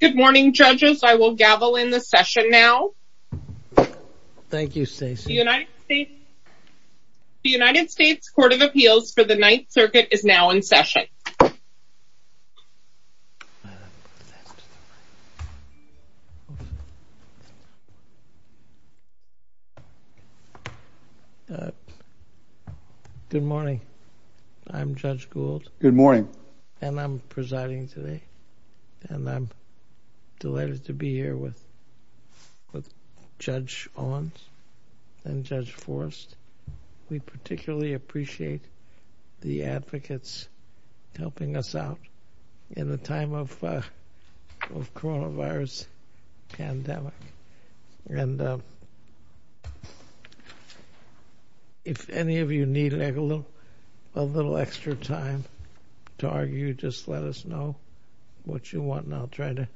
Good morning judges. I will gavel in the session now. Thank you Stacey. The United States Court of Appeals for the Ninth Circuit is now in session. Good morning. I'm Judge Gould. Good morning. And I'm presiding today. And I'm delighted to be here with Judge Owens and Judge Forrest. We particularly appreciate the advocates helping us out in the time of coronavirus pandemic. And if any of you need a little extra time to argue, just let us know what you want and I'll try to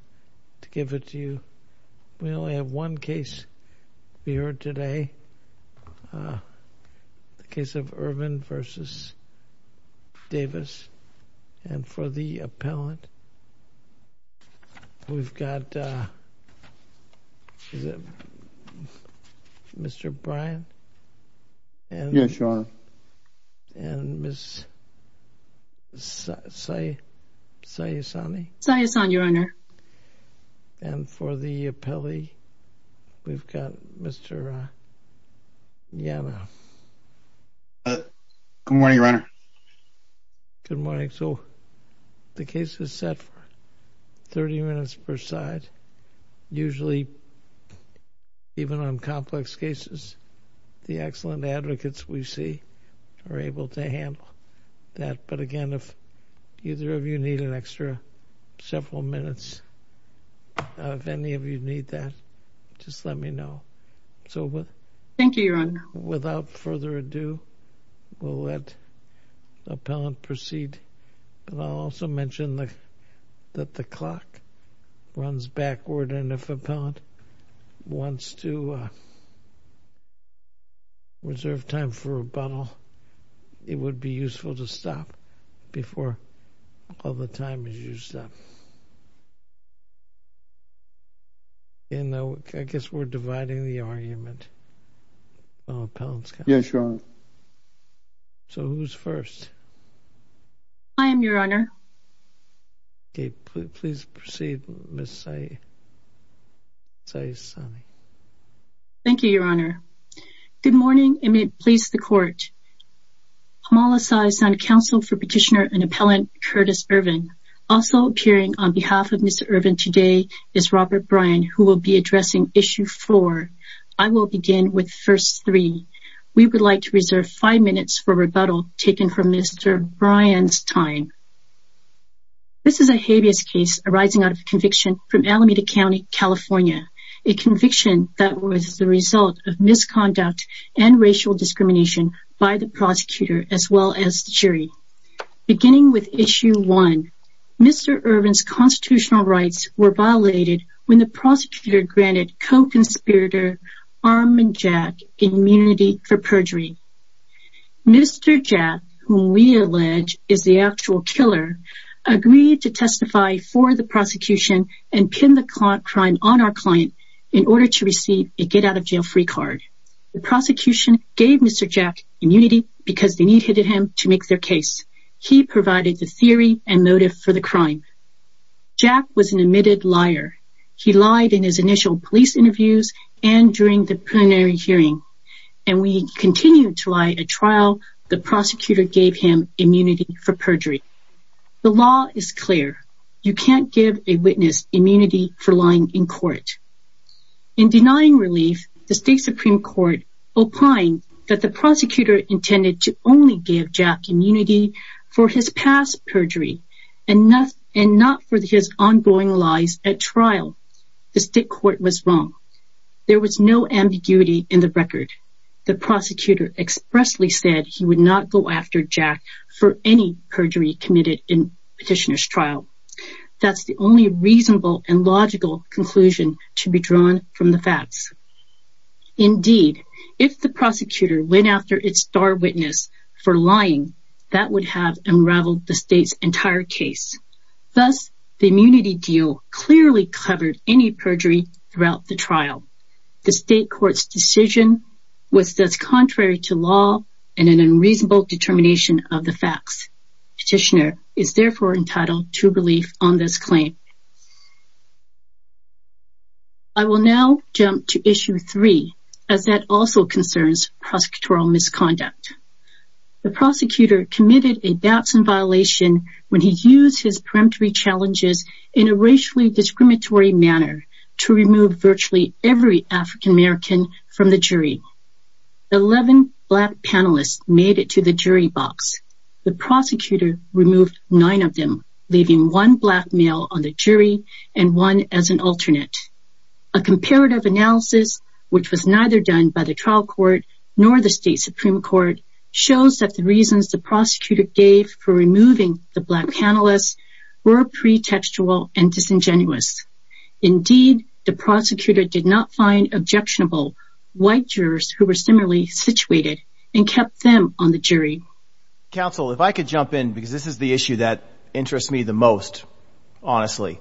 give it to you. We only have one case here today. The case of Ervin v. Davis. And for the appellant, we've got Mr. Bryan. Yes, Your Honor. And Ms. Sayesani. Sayesani, Your Honor. And for the appellee, we've got Mr. Yanna. Good morning, Your Honor. Good morning. So the case is set for 30 minutes per side. Usually, even on complex cases, the excellent advocates we see are able to handle that. But again, if either of you need an extra several minutes, if any of you need that, just let me know. Thank you, Your Honor. So without further ado, we'll let the appellant proceed. And I'll also mention that the clock runs backward. And if the appellant wants to reserve time for rebuttal, it would be useful to stop before all the time is used up. And I guess we're dividing the argument. Yes, Your Honor. So who's first? I am, Your Honor. Okay, please proceed, Ms. Sayesani. Thank you, Your Honor. Good morning, and may it please the Court. Pamela Sayesani, counsel for Petitioner and Appellant Curtis Ervin. Also appearing on behalf of Ms. Ervin today is Robert Bryan, who will be addressing issue four. I will begin with first three. We would like to reserve five minutes for rebuttal taken from Mr. Bryan's time. This is a habeas case arising out of conviction from Alameda County, California, a conviction that was the result of misconduct and racial discrimination by the prosecutor as well as the jury. Beginning with issue one, Mr. Ervin's constitutional rights were violated when the prosecutor granted co-conspirator Armin Jack immunity for perjury. Mr. Jack, whom we allege is the actual killer, agreed to testify for the prosecution and pin the crime on our client in order to receive a get-out-of-jail-free card. The prosecution gave Mr. Jack immunity because they needed him to make their case. He provided the theory and motive for the crime. Jack was an admitted liar. He lied in his initial police interviews and during the plenary hearing, and we continued to lie at trial. The prosecutor gave him immunity for perjury. The law is clear. You can't give a witness immunity for lying in court. In denying relief, the state Supreme Court opined that the prosecutor intended to only give Jack immunity for his past perjury and not for his ongoing lies at trial. The state court was wrong. There was no ambiguity in the record. The prosecutor expressly said he would not go after Jack for any perjury committed in petitioner's trial. That's the only reasonable and logical conclusion to be drawn from the facts. Indeed, if the prosecutor went after its star witness for perjury, that would have unraveled the state's entire case. Thus, the immunity deal clearly covered any perjury throughout the trial. The state court's decision was thus contrary to law and an unreasonable determination of the facts. Petitioner is therefore entitled to relief on this claim. I will now jump to issue three, as that also concerns prosecutorial misconduct. The prosecutor committed a doubts and violation when he used his peremptory challenges in a racially discriminatory manner to remove virtually every African-American from the jury. Eleven black panelists made it to the jury box. The prosecutor removed nine of them, leaving one black male on the jury and one as an alternate. A comparative analysis, which was submitted to the Supreme Court, shows that the reasons the prosecutor gave for removing the black panelists were pretextual and disingenuous. Indeed, the prosecutor did not find objectionable white jurors who were similarly situated and kept them on the jury. Counsel, if I could jump in, because this is the issue that interests me the most, honestly.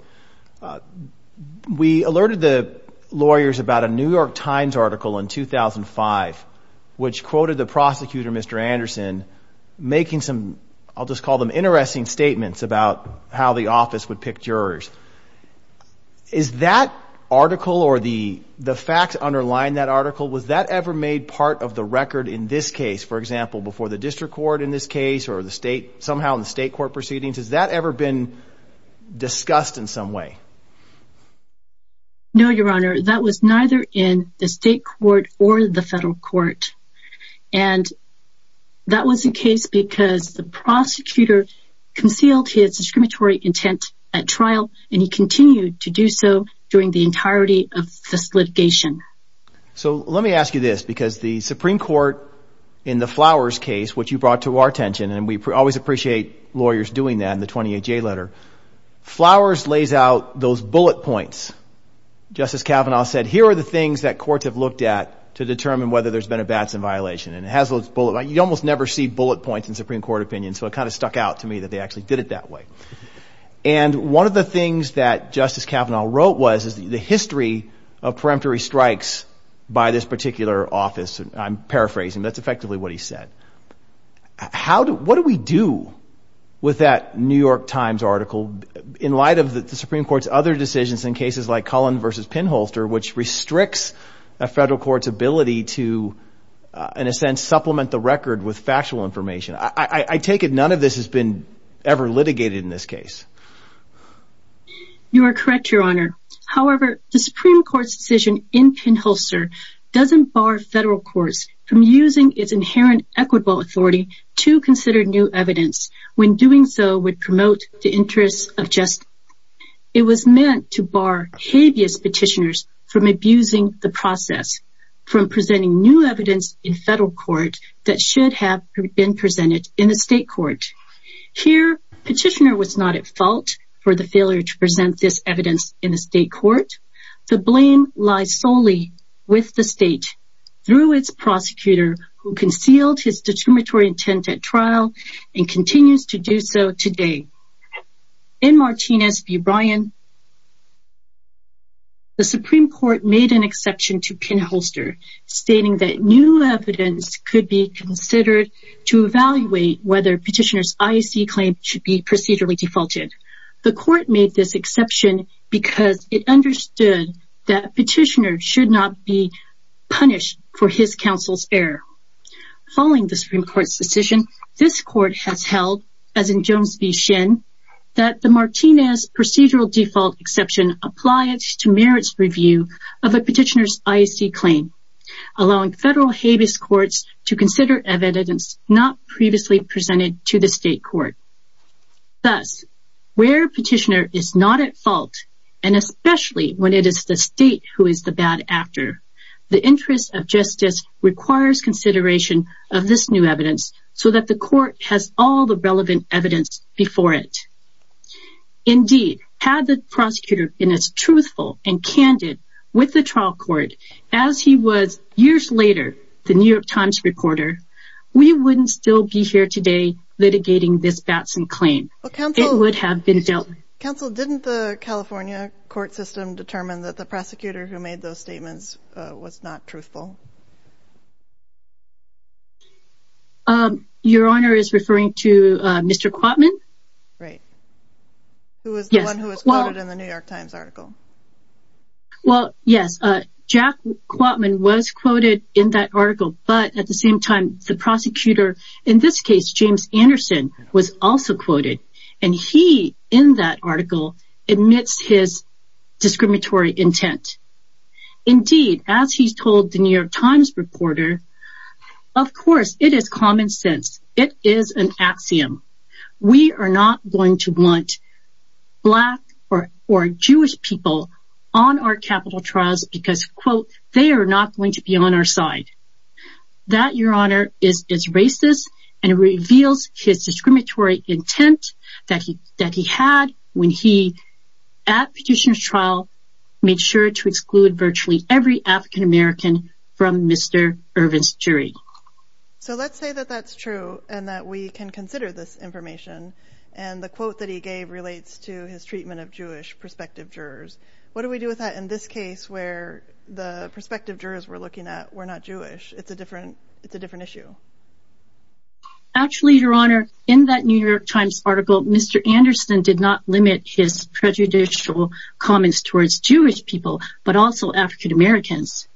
We alerted the lawyers about a New York Times article in 2005, which quoted the prosecutor, Mr. Anderson, making some, I'll just call them interesting statements about how the office would pick jurors. Is that article or the the facts underlying that article, was that ever made part of the record in this case, for example, before the district court in this case or the state, somehow in the state court proceedings? Has that ever been discussed in some way? No, your honor. That was neither in the state court or the federal court. And that was the case because the prosecutor concealed his discriminatory intent at trial and he continued to do so during the entirety of this litigation. So let me ask you this, because the Supreme Court in the Flowers case, which you brought to our attention, and we always appreciate lawyers doing that in the 20HA letter, Flowers lays out those bullet points. Justice Kavanaugh said, here are the things that courts have looked at to determine whether there's been a Batson violation. And it has those bullet points. You almost never see bullet points in Supreme Court opinions. So it kind of stuck out to me that they actually did it that way. And one of the things that Justice Kavanaugh wrote was the history of preemptory strikes by this particular office. I'm paraphrasing. That's what we do with that New York Times article in light of the Supreme Court's other decisions in cases like Cullen v. Pinholster, which restricts a federal court's ability to, in a sense, supplement the record with factual information. I take it none of this has been ever litigated in this case. You are correct, your honor. However, the Supreme Court's decision in Pinholster doesn't bar federal courts from using its evidence when doing so would promote the interests of justice. It was meant to bar habeas petitioners from abusing the process, from presenting new evidence in federal court that should have been presented in the state court. Here, petitioner was not at fault for the failure to present this evidence in the state court. The blame lies solely with the state, through its prosecutor, who concealed his discriminatory intent at and continues to do so today. In Martinez v. Bryan, the Supreme Court made an exception to Pinholster, stating that new evidence could be considered to evaluate whether petitioner's IAC claim should be procedurally defaulted. The court made this exception because it understood that petitioner should not be punished for his counsel's error. Following the Supreme Court's decision, this court has held, as in Jones v. Shin, that the Martinez procedural default exception applies to merits review of a petitioner's IAC claim, allowing federal habeas courts to consider evidence not previously presented to the state court. Thus, where petitioner is not at fault, requires consideration of this new evidence so that the court has all the relevant evidence before it. Indeed, had the prosecutor been as truthful and candid with the trial court as he was years later, the New York Times reporter, we wouldn't still be here today litigating this Batson claim. It would have been dealt with. Counsel, didn't the California court system determine that the prosecutor who made those statements was not truthful? Your Honor is referring to Mr. Quatman? Right. Who was the one who was quoted in the New York Times article? Well, yes, Jack Quatman was quoted in that article, but at the same time, the prosecutor, in this case, James Anderson, was also quoted in that article amidst his discriminatory intent. Indeed, as he told the New York Times reporter, of course, it is common sense. It is an axiom. We are not going to want black or Jewish people on our capital trials because, quote, they are not going to be on our side. That, Your Honor, is racist and reveals his discriminatory intent that he had when he, at Petitioner's Trial, made sure to exclude virtually every African-American from Mr. Irvin's jury. So let's say that that's true and that we can consider this information and the quote that he gave relates to his treatment of Jewish prospective jurors. What do we do with that in this case where the prospective jurors we're looking at were not Jewish? It's a different it's a different issue. Actually, Your Honor, in that New York Times article, Mr. Anderson did not limit his prejudicial comments towards Jewish people, but also African-Americans.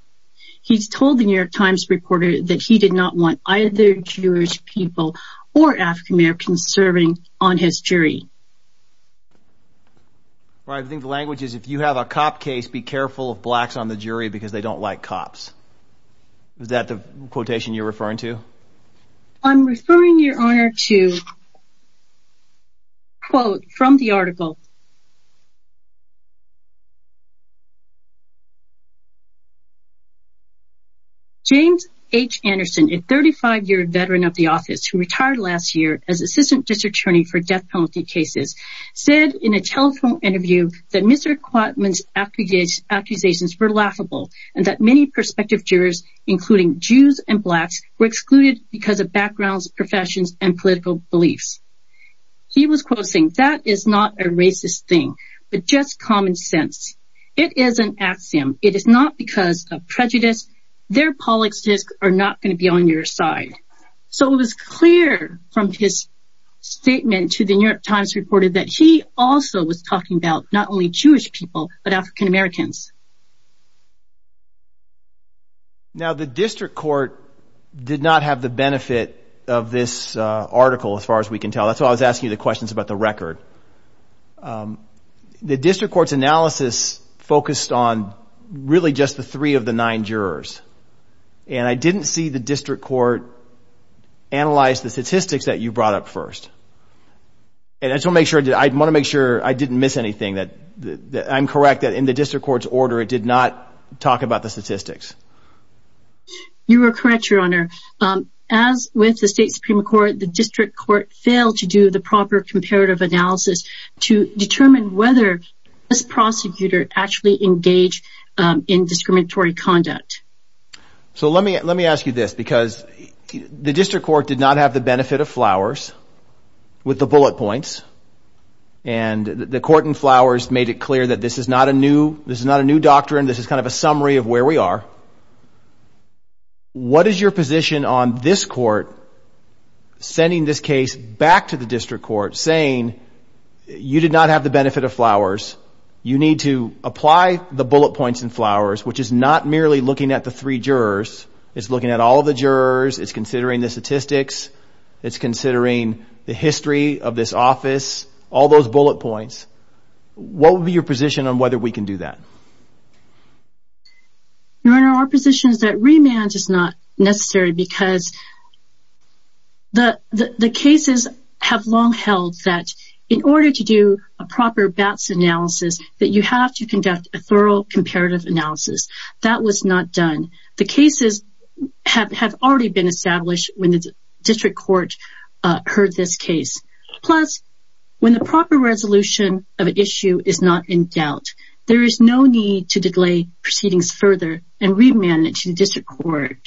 He's told the New York Times reporter that he did not want either Jewish people or African-Americans serving on his jury. I think the language is if you have a cop case, be careful of blacks on the jury because they don't like cops. Is that the quotation you're referring to? I'm referring, Your Honor, to a quote from the article. James H. Anderson, a 35-year veteran of the office who retired last year as assistant district attorney for death penalty cases, said in a telephone interview that Mr. Anderson was not a racist because of backgrounds, professions and political beliefs. He was quoting that is not a racist thing, but just common sense. It is an axiom. It is not because of prejudice. Their politics are not going to be on your side. So it was clear from his statement to the New York Times reported that he also was talking about not only Jewish people, but African-Americans. Now, the district court did not have the benefit of this article, as far as we can tell. That's why I was asking you the questions about the record. The district court's analysis focused on really just the three of the nine jurors, and I didn't see the district court analyze the statistics that you brought up first. And I want to make sure I didn't miss anything. I'm correct that in the district court's order, it did not talk about the statistics. You are correct, Your Honor. As with the state Supreme Court, the district court failed to do the proper comparative analysis to determine whether this prosecutor actually engaged in discriminatory conduct. So let me let me ask you this, because the district court did not have the benefit of Flowers with the bullet points. And the court in Flowers made it clear that this is not a new this is not a new doctrine. This is kind of a summary of where we are. What is your position on this court sending this case back to the district court saying you did not have the benefit of Flowers? You need to apply the bullet points in Flowers, which is not merely looking at the three jurors. It's looking at all the jurors. It's considering the statistics. It's considering the history of this office. All those bullet points. What would be your position on whether we can do that? Your Honor, our position is that remand is not necessary because the cases have long held that in order to do a proper BATS analysis that you have to conduct a thorough comparative analysis. That was not done. The cases have already been established when the district court heard this case. Plus, when the proper resolution of an issue is not in doubt, there is no need to delay proceedings further and remand it to the district court.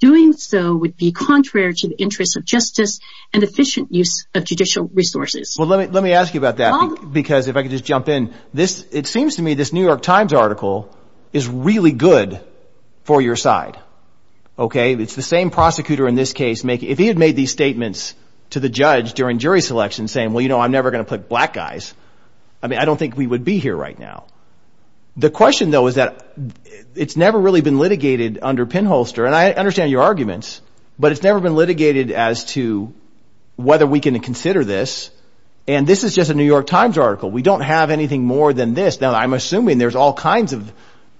Doing so would be contrary to the interests of justice and efficient use of judicial resources. Well, let me let me ask you about that, because if I could just jump in this, it seems to me this New York Times article is really good for your side. OK, it's the same prosecutor in this case. If he had made these statements to the judge during jury selection saying, well, you know, I'm never going to put black guys. I mean, I don't think we would be here right now. The question, though, is that it's never really been litigated under pinholster. And I understand your arguments, but it's never been litigated as to whether we can consider this. And this is just a New York Times article. We don't have anything more than this. Now, I'm assuming there's all kinds of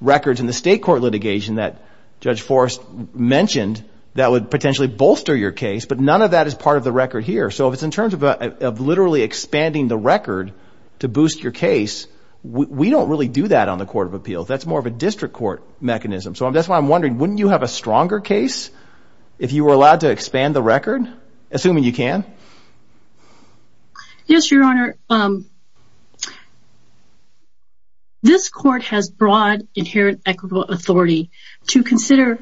records in the state court litigation that Judge Forrest mentioned that would potentially bolster your case. But none of that is part of the record here. So if it's in terms of literally expanding the record to boost your case, we don't really do that on the court of appeals. That's more of a district court mechanism. So that's why I'm wondering, wouldn't you have a stronger case if you were allowed to expand the record, assuming you can? Yes, Your Honor. This court has broad, inherent, equitable authority to consider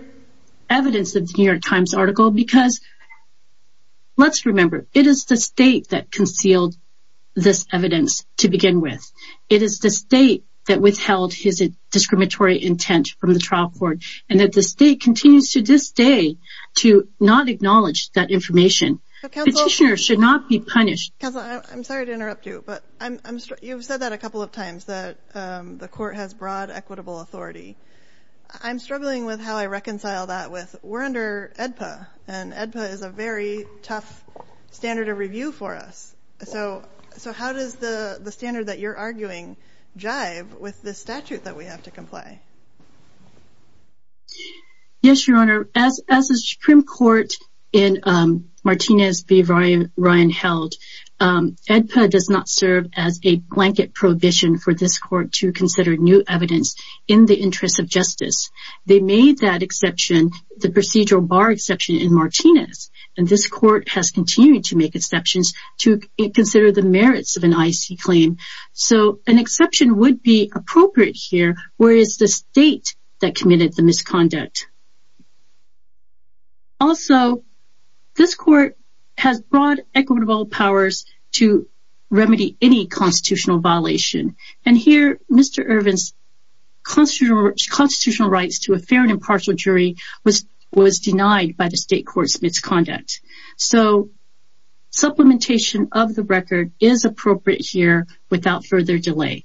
evidence of the New York Times article because, let's remember, it is the state that concealed this evidence to begin with. It is the state that withheld his discriminatory intent from the trial court and that the state continues to this day to not acknowledge that information. Petitioners should not be punished. Counsel, I'm sorry to interrupt you, but you've said that a couple of times, that the court has broad, equitable authority. I'm struggling with how I reconcile that with we're under AEDPA and AEDPA is a very tough standard of review for us. So how does the standard that you're arguing jive with this statute that we have to comply? Yes, Your Honor. As the Supreme Court in Martinez v. Ryan held, AEDPA does not serve as a blanket prohibition for this court to consider new evidence in the interest of justice. They made that exception, the procedural bar exception in Martinez, and this court has continued to make exceptions to consider the merits of an IEC claim. So an exception would be appropriate here, whereas the state that committed the misconduct. Also, this court has broad, equitable powers to remedy any constitutional violation. And here, Mr. Irvin's constitutional rights to a fair and impartial jury was denied by the state court's misconduct. So supplementation of the record is appropriate here without further delay.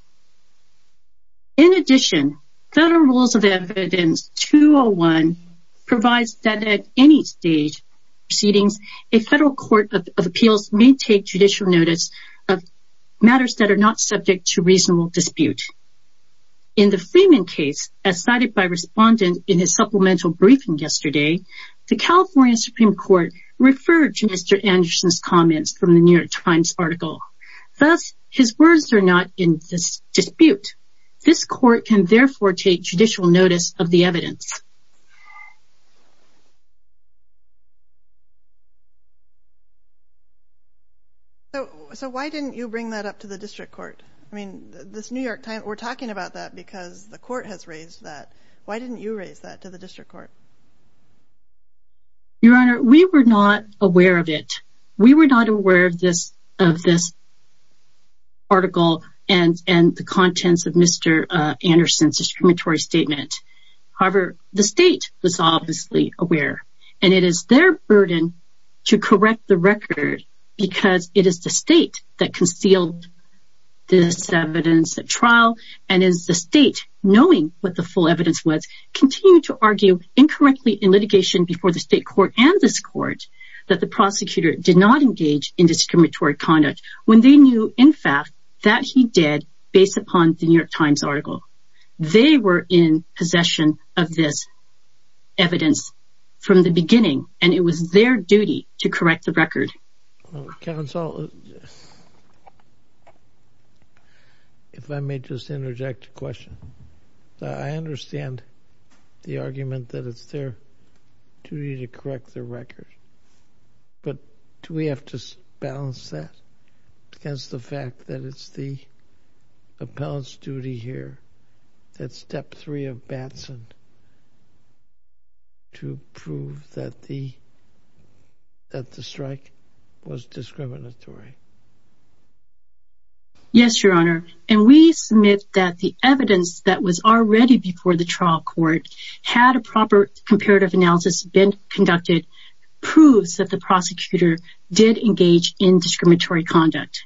In addition, Federal Rules of Evidence 201 provides that at any stage of proceedings, a federal court of appeals may take judicial notice of matters that are not subject to reasonable dispute. In the Freeman case, as cited by Respondent in his supplemental briefing yesterday, the California Supreme Court referred to Mr. Anderson's comments from the New York Times article. Thus, his words are not in dispute. This court can therefore take judicial notice of the evidence. So why didn't you bring that up to the district court? I mean, this New York Times, we're talking about that because the court has raised that. Why didn't you raise that to the district court? Your Honor, we were not aware of it. We were not aware of this article and the contents of Mr. Anderson's discriminatory statement. However, the state was obviously aware, and it is their burden to correct the record because it is the state that concealed this evidence at trial. And as the state, knowing what the full evidence was, continued to argue incorrectly in litigation before the state court and this court that the prosecutor did not engage in discriminatory conduct when they knew, in fact, that he did based upon the New York Times article. They were in possession of this evidence from the beginning, and it was their duty to correct the record. Counsel, if I may just interject a question, I understand the argument that it's their duty to correct the record, but do we have to balance that against the fact that it's the appellant's duty here at Step 3 of Batson to prove that the strike was discriminatory? Yes, Your Honor, and we submit that the evidence that was already before the trial court had a proper comparative analysis been conducted proves that the prosecutor did engage in discriminatory conduct.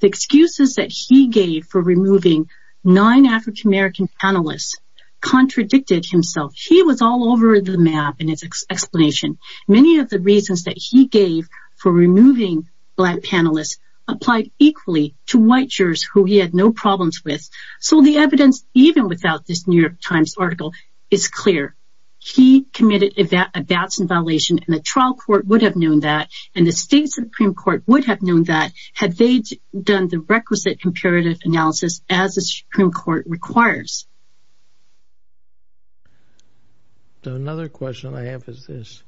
The excuses that he gave for removing nine African-American panelists contradicted himself. He was all over the map in his explanation. Many of the reasons that he gave for removing black panelists applied equally to white jurors who he had no problems with. So the evidence, even without this New York Times article, is clear. He committed a Batson violation, and the trial court would have known that, and the state Supreme Court would have known that had they done the requisite comparative analysis as the Supreme Court requires. So another question I have is this,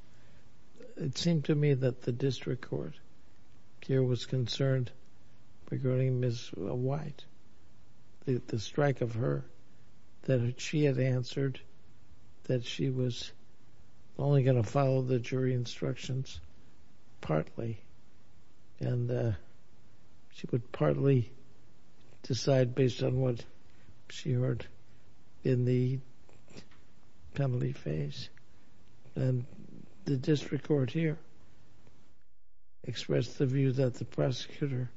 it seemed to me that the district court here was concerned regarding Ms. White, the strike of her, that she had answered that she was only going to follow the jury instructions partly, and she would partly decide based on what she heard in the penalty phase, and the district court here expressed the view that the prosecutor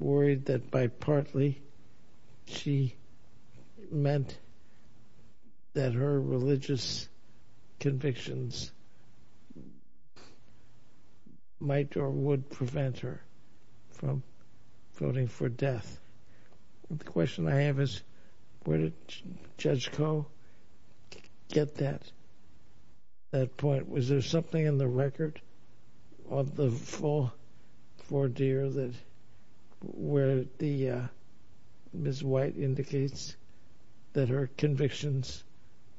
worried that by partly she meant that her religious convictions might or would prevent her from voting for death. The question I have is where did Judge Koh get that point? Was there something in the record of the four deer where Ms. White indicates that her convictions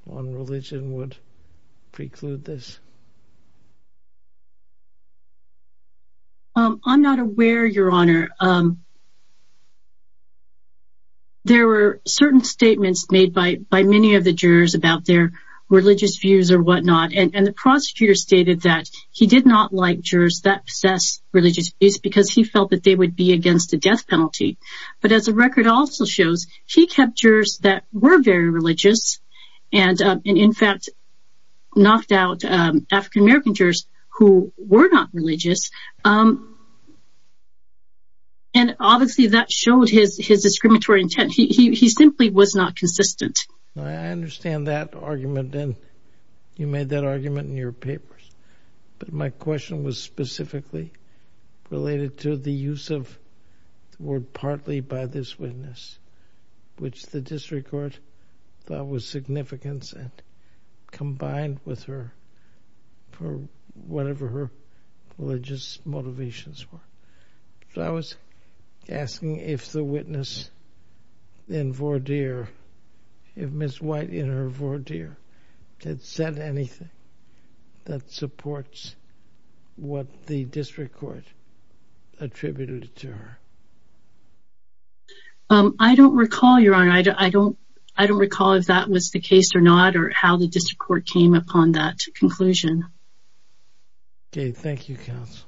on religion would preclude this? I'm not aware, Your Honor. There were certain statements made by many of the jurors about their religious views or whatnot, and the prosecutor stated that he did not like jurors that possessed religious views because he felt that they would be against a death penalty. But as the record also shows, he kept jurors that were very religious, and in fact knocked out African-American jurors who were not religious, and obviously that showed his discriminatory intent. He simply was not consistent. I understand that argument, and you made that argument in your papers, but my question was specifically related to the use of the word partly by this witness, which the district court thought was significant and combined with her for whatever her religious motivations were. I was asking if the witness in Vordir, if Ms. White in her Vordir, had said anything that supports what the district court attributed to her. I don't recall, Your Honor. I don't recall if that was the case or not or how the district court came upon that conclusion. Okay. Thank you, counsel.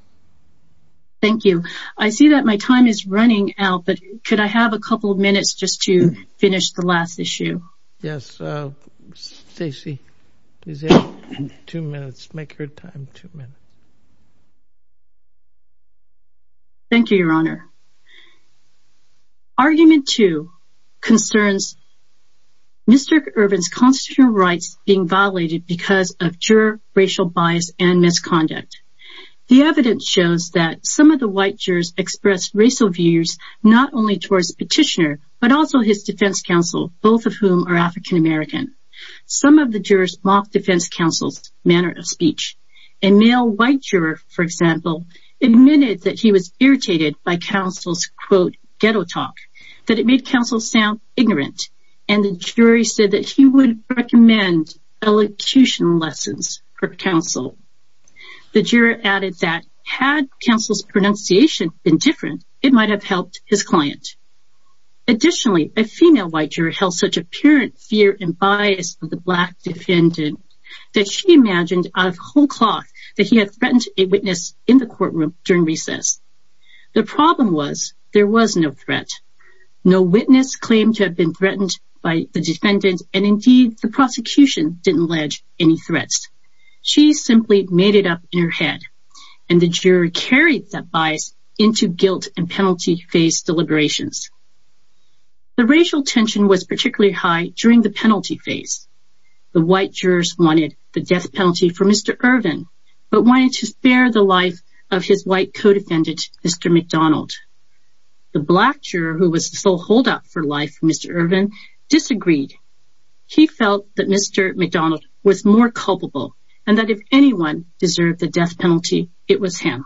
Thank you. I see that my time is running out, but could I have a couple of minutes just to finish the last issue? Yes. Stacy, please have two minutes. Make your time two minutes. Thank you, Your Honor. Argument two concerns Mr. Irvin's constitutional rights being violated because of juror racial bias and misconduct. The evidence shows that some of the white jurors expressed racial views not only towards the petitioner, but also his defense counsel, both of whom are African-American. Some of the jurors mocked defense counsel's manner of speech. A male white juror, for example, admitted that he was irritated by counsel's, quote, ghetto talk, that it made counsel sound ignorant. And the jury said that he would recommend elocution lessons for counsel. The juror added that had counsel's pronunciation been different, it might have helped his client. Additionally, a female white juror held such apparent fear and bias of the black defendant that she imagined out of whole cloth that he had threatened a witness in the courtroom during recess. The problem was there was no threat. No witness claimed to have been threatened by the defendant, and indeed, the prosecution didn't allege any threats. She simply made it up in her head, and the juror carried that bias into guilt and penalty phase deliberations. The racial tension was particularly high during the penalty phase. The white jurors wanted the death penalty for Mr. Irvin, but wanted to spare the life of his white co-defendant, Mr. McDonald. The black juror, who was the sole holdout for life for Mr. Irvin, disagreed. He felt that Mr. McDonald was more culpable, and that if anyone deserved the death penalty, it was him.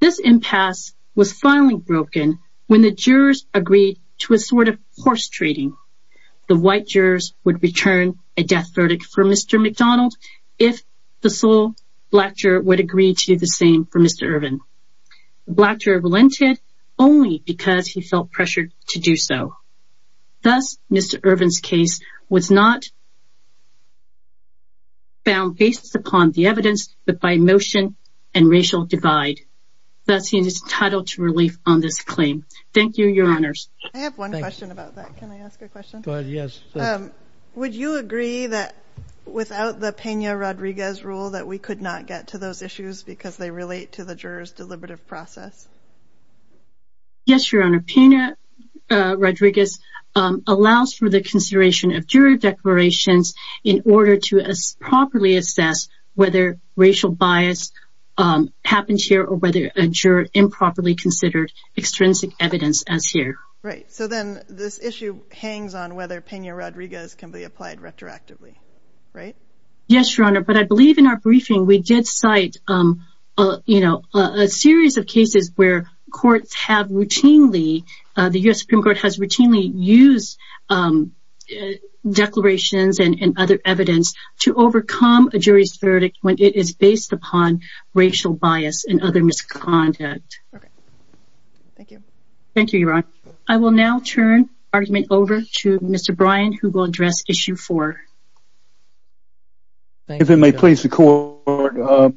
This impasse was finally broken when the jurors agreed to a sort of horse trading. The white jurors would return a death verdict for Mr. McDonald if the sole black juror would agree to the same for Mr. Irvin. The black juror relented only because he felt pressured to do so. Thus, Mr. Irvin's case was not found based upon the evidence, but by emotion and racial divide. Thus, he is entitled to relief on this claim. Thank you, Your Honors. I have one question about that. Can I ask a question? Go ahead, yes. Would you agree that without the Pena-Rodriguez rule that we could not get to those issues because they relate to the jurors' deliberative process? Yes, Your Honor. Pena-Rodriguez allows for the consideration of jury declarations in order to properly assess whether racial bias happens here, or whether a juror improperly considered extrinsic evidence as here. Right, so then this issue hangs on whether Pena-Rodriguez can be applied retroactively, right? Yes, Your Honor, but I believe in our briefing we did cite a series of cases where courts have routinely, the U.S. Supreme Court has routinely used declarations and other evidence to overcome a jury's verdict when it is based upon racial bias and other misconduct. Okay, thank you. Thank you, Your Honor. I will now turn the argument over to Mr. Bryan who will address Issue 4. Thank you. If it may please the Court,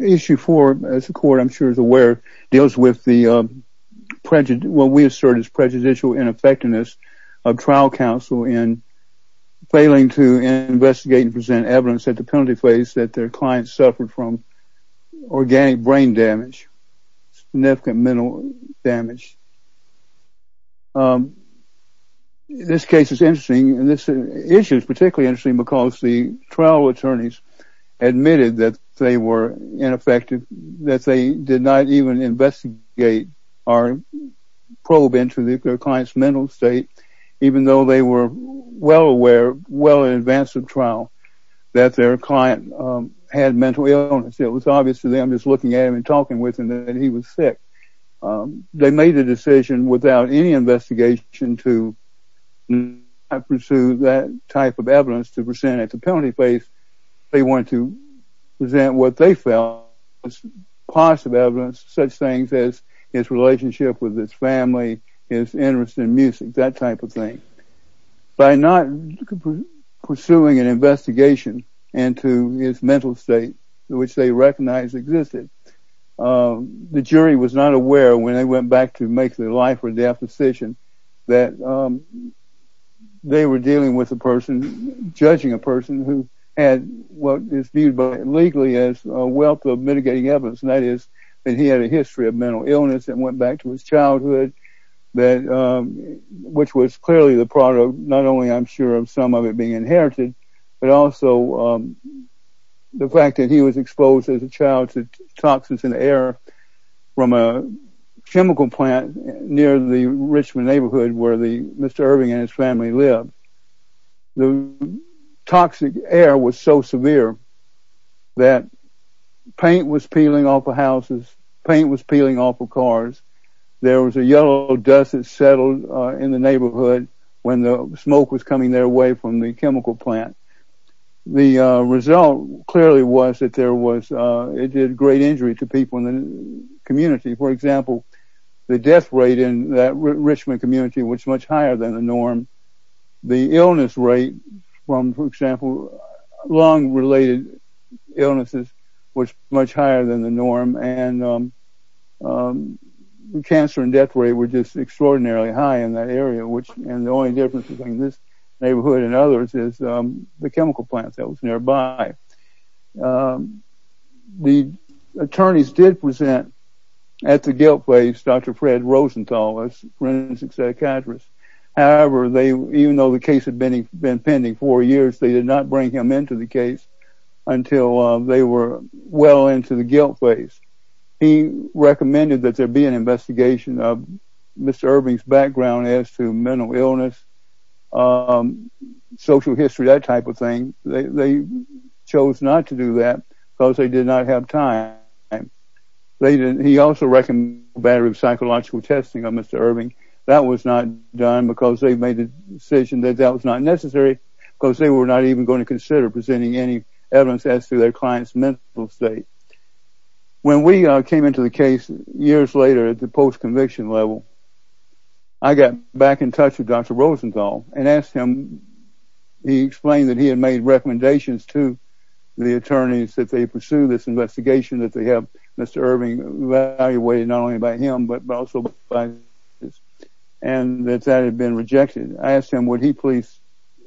Issue 4, as the Court, I'm sure, is aware, deals with what we assert is prejudicial ineffectiveness of trial counsel in failing to investigate and present evidence at the penalty phase that their client suffered from organic brain damage, significant mental damage. This case is interesting, and this issue is particularly interesting because the trial attorneys admitted that they were ineffective, that they did not even investigate or probe into their client's mental state, even though they were well aware, well in advance of trial, that their client had mental illness. It was obvious to them just looking at him and talking with him that he was sick. They made a decision without any investigation to pursue that type of evidence to present at the penalty phase. They wanted to present what they felt was positive evidence, such things as his relationship with his family, his interest in music, that type of thing. By not pursuing an investigation into his mental state, which they recognized existed, the jury was not aware when they went back to make their life or death decision that they were dealing with a person, judging a person, who had what is viewed legally as a wealth of mitigating evidence, and that is that he had a history of mental illness that went back to his childhood, which was clearly the product, not only I'm sure, of some of it being inherited, but also the fact that he was exposed as a child to toxins in the air from a chemical plant near the Richmond neighborhood where Mr. Irving and his family lived. The toxic air was so severe that paint was peeling off of houses, paint was peeling off of cars. There was a yellow dust that settled in the neighborhood when the smoke was coming their way from the chemical plant. The result clearly was that it did great injury to people in the community. For example, the death rate in that Richmond community was much higher than the norm. The illness rate from, for example, lung-related illnesses was much higher than the norm, and the cancer and death rate were just extraordinarily high in that area, and the only difference between this neighborhood and others is the chemical plant that was nearby. The attorneys did present at the guilt base Dr. Fred Rosenthal, a forensic psychiatrist. However, even though the case had been pending four years, they did not bring him into the case until they were well into the guilt phase. He recommended that there be an investigation of Mr. Irving's background as to mental illness, social history, that type of thing. They chose not to do that because they did not have time. He also recommended a battery of psychological testing of Mr. Irving. That was not done because they made the decision that that was not necessary because they were not even going to consider presenting any evidence as to their client's mental state. When we came into the case years later at the post-conviction level, I got back in touch with Dr. Rosenthal and asked him. He explained that he had made recommendations to the attorneys that they pursue this investigation, that they have Mr. Irving evaluated not only by him, but also by others, and that that had been rejected. I asked him would he please,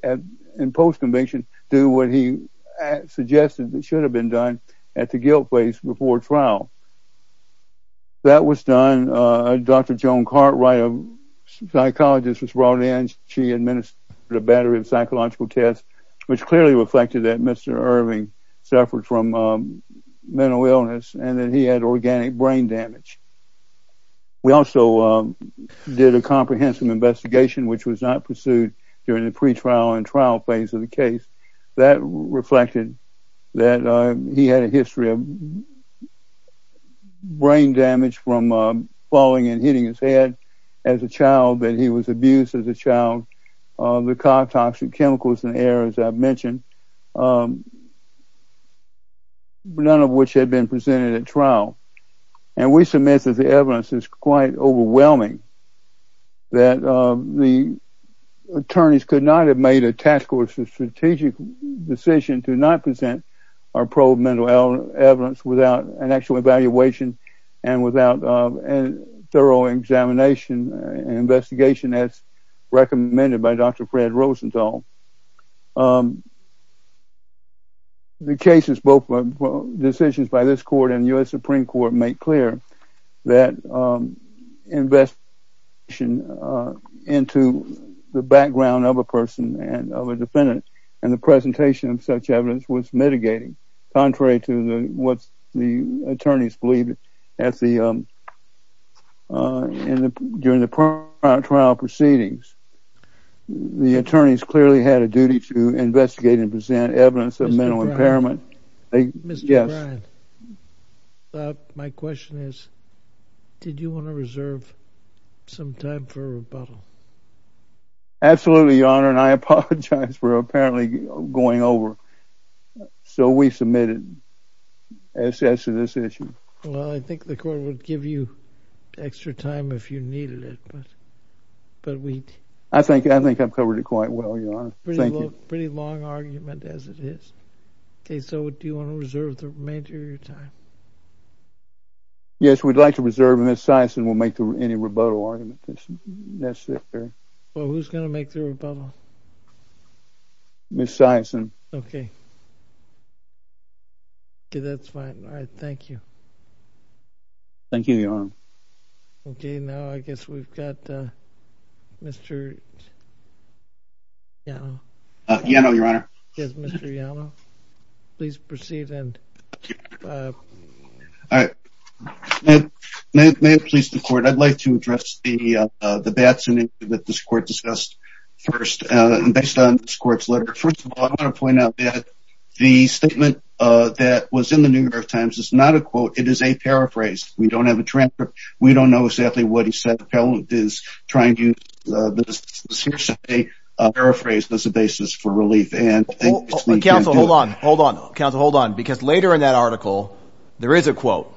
in post-conviction, do what he suggested that should have been done at the guilt phase before trial. That was done. Dr. Joan Cartwright, a psychologist, was brought in. She administered a battery of psychological tests, which clearly reflected that Mr. Irving suffered from mental illness and that he had organic brain damage. We also did a comprehensive investigation, which was not pursued during the pre-trial and trial phase of the case. That reflected that he had a history of brain damage from falling and hitting his head as a child, that he was abused as a child, the toxic chemicals in the air, as I mentioned, none of which had been presented at trial. We submit that the evidence is quite overwhelming, that the attorneys could not have made a task force or strategic decision to not present our proven mental illness evidence without an actual evaluation and without a thorough examination and investigation as recommended by Dr. Fred Rosenthal. The cases, both decisions by this court and the U.S. Supreme Court, make clear that investigation into the background of a person and the presentation of such evidence was mitigating, contrary to what the attorneys believed during the trial proceedings. The attorneys clearly had a duty to investigate and present evidence of mental impairment. Mr. Bryan, my question is, did you want to reserve some time for rebuttal? Absolutely, Your Honor, and I apologize for apparently going over. So we submitted S.S. to this issue. Well, I think the court would give you extra time if you needed it. I think I've covered it quite well, Your Honor. Pretty long argument as it is. Okay, so do you want to reserve the remainder of your time? Yes, we'd like to reserve, and Ms. Siason will make any rebuttal argument necessary. Well, who's going to make the rebuttal? Ms. Siason. Okay. Okay, that's fine. All right, thank you. Thank you, Your Honor. Okay, now I guess we've got Mr. Yano. Yano, Your Honor. Yes, Mr. Yano. Please proceed and... All right. May it please the court, I'd like to address the bad scenario that this court discussed first. Based on this court's letter, first of all, I want to point out that the statement that was in the New York Times is not a quote, it is a paraphrase. We don't have a transcript. We don't know exactly what he said. The appellate is trying to use Ms. Siason to paraphrase this as a basis for relief. Counsel, hold on. Hold on. Counsel, hold on. Because later in that article, there is a quote.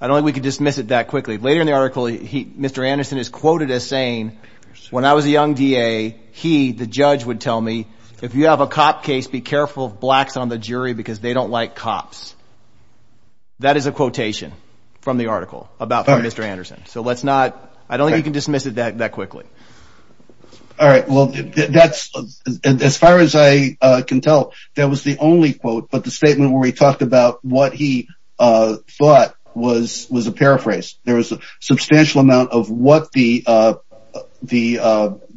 I don't think we can dismiss it that quickly. Later in the article, Mr. Anderson is quoted as saying, when I was a young DA, he, the judge, would tell me, if you have a cop case, be careful of blacks on the jury because they don't like cops. That is a quotation from the article about Mr. Anderson. So let's not, I don't think you can dismiss it that quickly. All right. Well, that's, as far as I can tell, that was the only quote, but the statement where he talked about what he thought was a paraphrase. There was a substantial amount of what the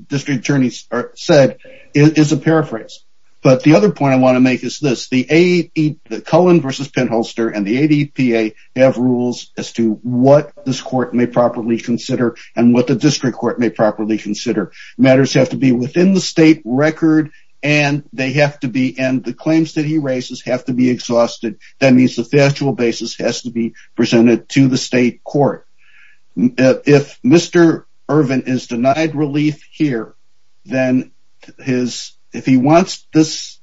district attorney said is a paraphrase. But the other point I want to make is this. Cullen v. Penholster and the ADPA have rules as to what this court may properly consider and what the district court may properly consider. Matters have to be within the state record, and they have to be, and the claims that he raises have to be exhausted. That means the factual basis has to be presented to the state court. If Mr. Ervin is denied relief here, then his, if he wants this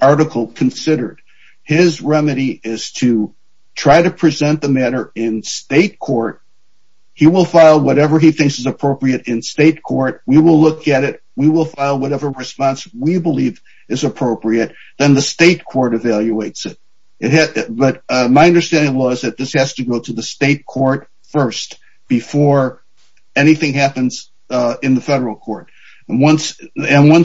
article considered, his remedy is to try to present the matter in state court. He will file whatever he thinks is appropriate in state court. We will look at it. We will file whatever response we believe is appropriate. Then the state court evaluates it. But my understanding was that this has to go to the state court first before anything happens in the federal court. And once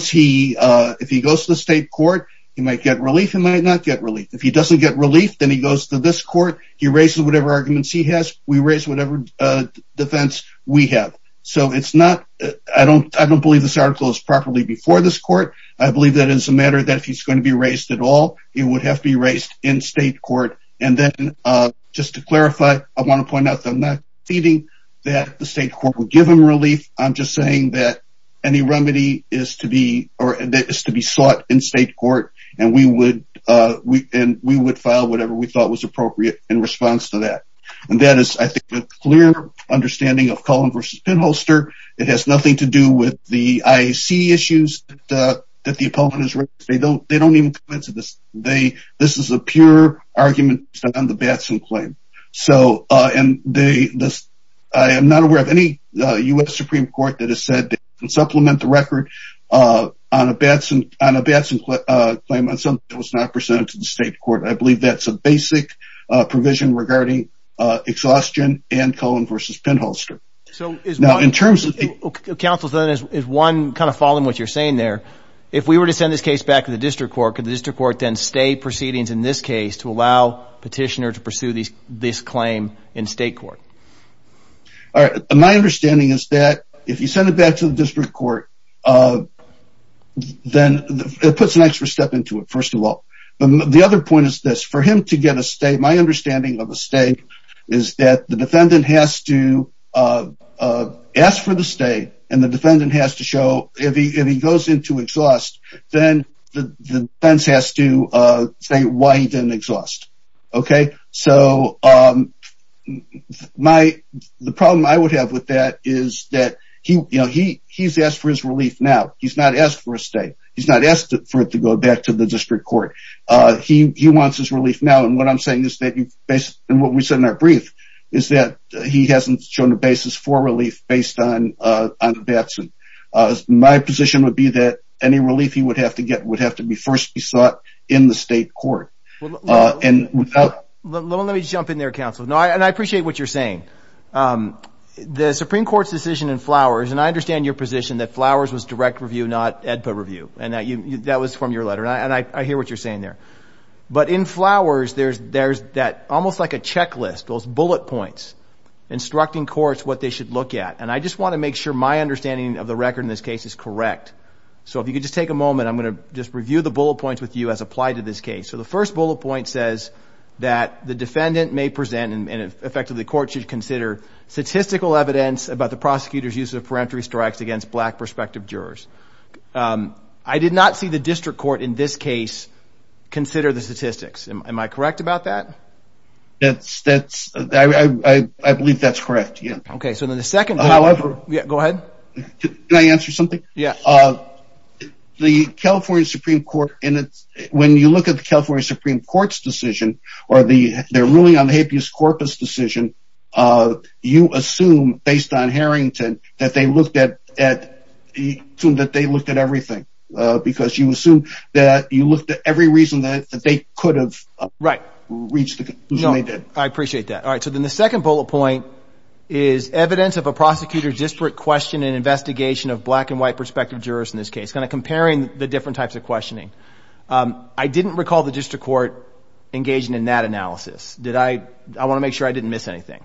he, if he goes to the state court, he might get relief. He might not get relief. If he doesn't get relief, then he goes to this court. He raises whatever arguments he has. We raise whatever defense we have. So it's not, I don't believe this article is properly before this court. I believe that it's a matter that if he's going to be raised at all, it would have to be raised in state court. And then, just to clarify, I want to point out that I'm not feeding that the state court would give him relief. I'm just saying that any remedy is to be sought in state court, and we would file whatever we thought was appropriate in response to that. And that is, I think, a clear understanding of Cullen versus Penholster. It has nothing to do with the IAC issues that the opponent has raised. They don't even come into this. This is a pure argument on the Batson claim. So, and they, I am not aware of any U.S. Supreme Court that has said they can supplement the record on a Batson claim on something that was not presented to the state court. I believe that's a basic provision regarding exhaustion and Cullen versus Penholster. Now, in terms of the- Counsel, is one kind of following what you're saying there. If we were to send this case back to the district court, could the district court then stay proceedings in this case to allow petitioners to pursue this claim in state court? All right. My understanding is that if you send it back to the district court, then it puts an extra step into it, first of all. The other point is this. For him to get a state, my understanding of a state, is that the defendant has to ask for the state, and the defendant has to show, if he goes into exhaust, then the defense has to say why he didn't exhaust. Okay? So, the problem I would have with that is that he's asked for his relief now. He's not asked for a state. He's not asked for it to go back to the district court. He wants his relief now, and what I'm saying is that, and what we said in our brief, is that he hasn't shown a basis for relief based on bets. My position would be that any relief he would have to get would have to be first sought in the state court. Let me jump in there, counsel, and I appreciate what you're saying. The Supreme Court's decision in Flowers, and I understand your position that Flowers was direct review, not EDPA review, and that was from your letter, and I hear what you're saying there. But in Flowers, there's that, almost like a checklist, those bullet points instructing courts what they should look at, and I just want to make sure my understanding of the record in this case is correct. So, if you could just take a moment, I'm going to just review the bullet points with you as applied to this case. So, the first bullet point says that the defendant may present, and effectively the court should consider, statistical evidence about the prosecutor's use of peremptory strikes against black prospective jurors. I did not see the district court in this case consider the statistics. Am I correct about that? I believe that's correct, yeah. Okay, so then the second bullet point, go ahead. Can I answer something? Yeah. The California Supreme Court, when you look at the California Supreme Court's decision, or their ruling on the habeas corpus decision, you assume, based on Harrington, that they looked at everything, because you assume that you looked at every reason that they could have reached the conclusion they did. I appreciate that. All right, so then the second bullet point is evidence of a prosecutor's disparate question in an investigation of black and white prospective jurors in this case, kind of comparing the different types of questioning. I didn't recall the district court engaging in that analysis. I want to make sure I didn't miss anything.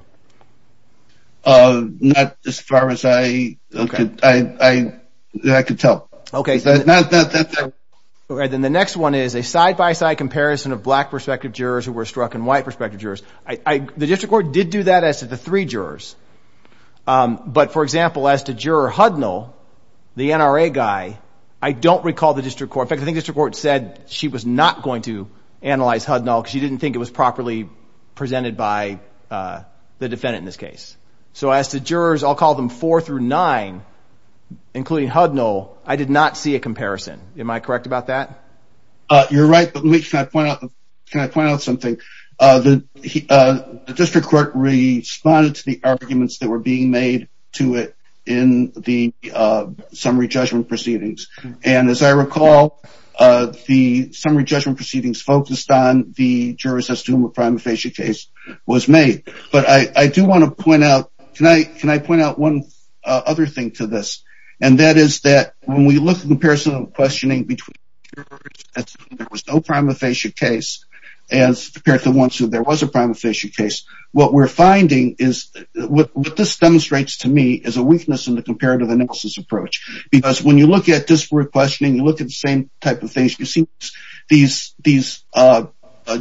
Not as far as I could tell. Okay. All right, then the next one is a side-by-side comparison of black prospective jurors who were struck and white prospective jurors. The district court did do that as to the three jurors. But, for example, as to Juror Hudnall, the NRA guy, I don't recall the district court. In fact, I think the district court said she was not going to analyze Hudnall because she didn't think it was properly presented by the defendant in this case. So as to jurors, I'll call them four through nine, including Hudnall, I did not see a comparison. Am I correct about that? You're right, but let me point out something. The district court responded to the arguments that were being made to it in the summary judgment proceedings. And as I recall, the summary judgment proceedings focused on the jurors as to whom a prima facie case was made. But I do want to point out, can I point out one other thing to this? And that is that when we look at the comparison of the questioning between jurors as if there was no prima facie case as compared to the ones who there was a prima facie case, what we're finding is, what this demonstrates to me is a weakness in the comparative analysis approach. Because when you look at district court questioning, you look at the same type of things. You see these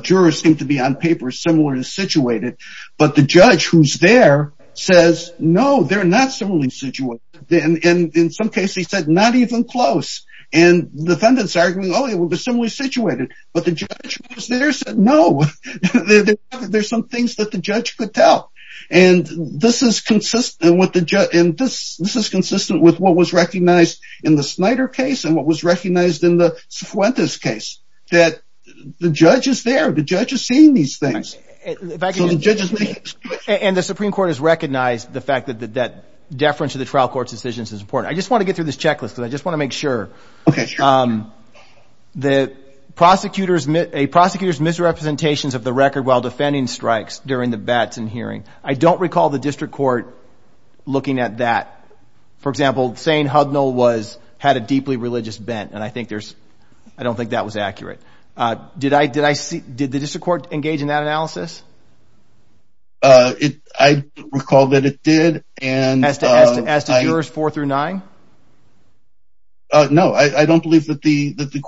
jurors seem to be on paper similar to situated, but the judge who's there says, no, they're not similarly situated. And in some cases, he said, not even close. And defendants are arguing, oh, they're similarly situated. But the judge who's there said, no, there's some things that the judge could tell. And this is consistent with what was recognized in the Snyder case and what was recognized in the Cifuentes case, that the judge is there. The judge is seeing these things. So the judge is making a switch. And the Supreme Court has recognized the fact that that deference to the trial court's decisions is important. I just want to get through this checklist because I just want to make sure. Okay, sure. The prosecutor's misrepresentations of the record while defending strikes during the bets and hearing, I don't recall the district court looking at that. For example, saying Hudnall had a deeply religious bent, and I don't think that was accurate. Did the district court engage in that analysis? I recall that it did. As to jurors four through nine? No, I don't believe that the district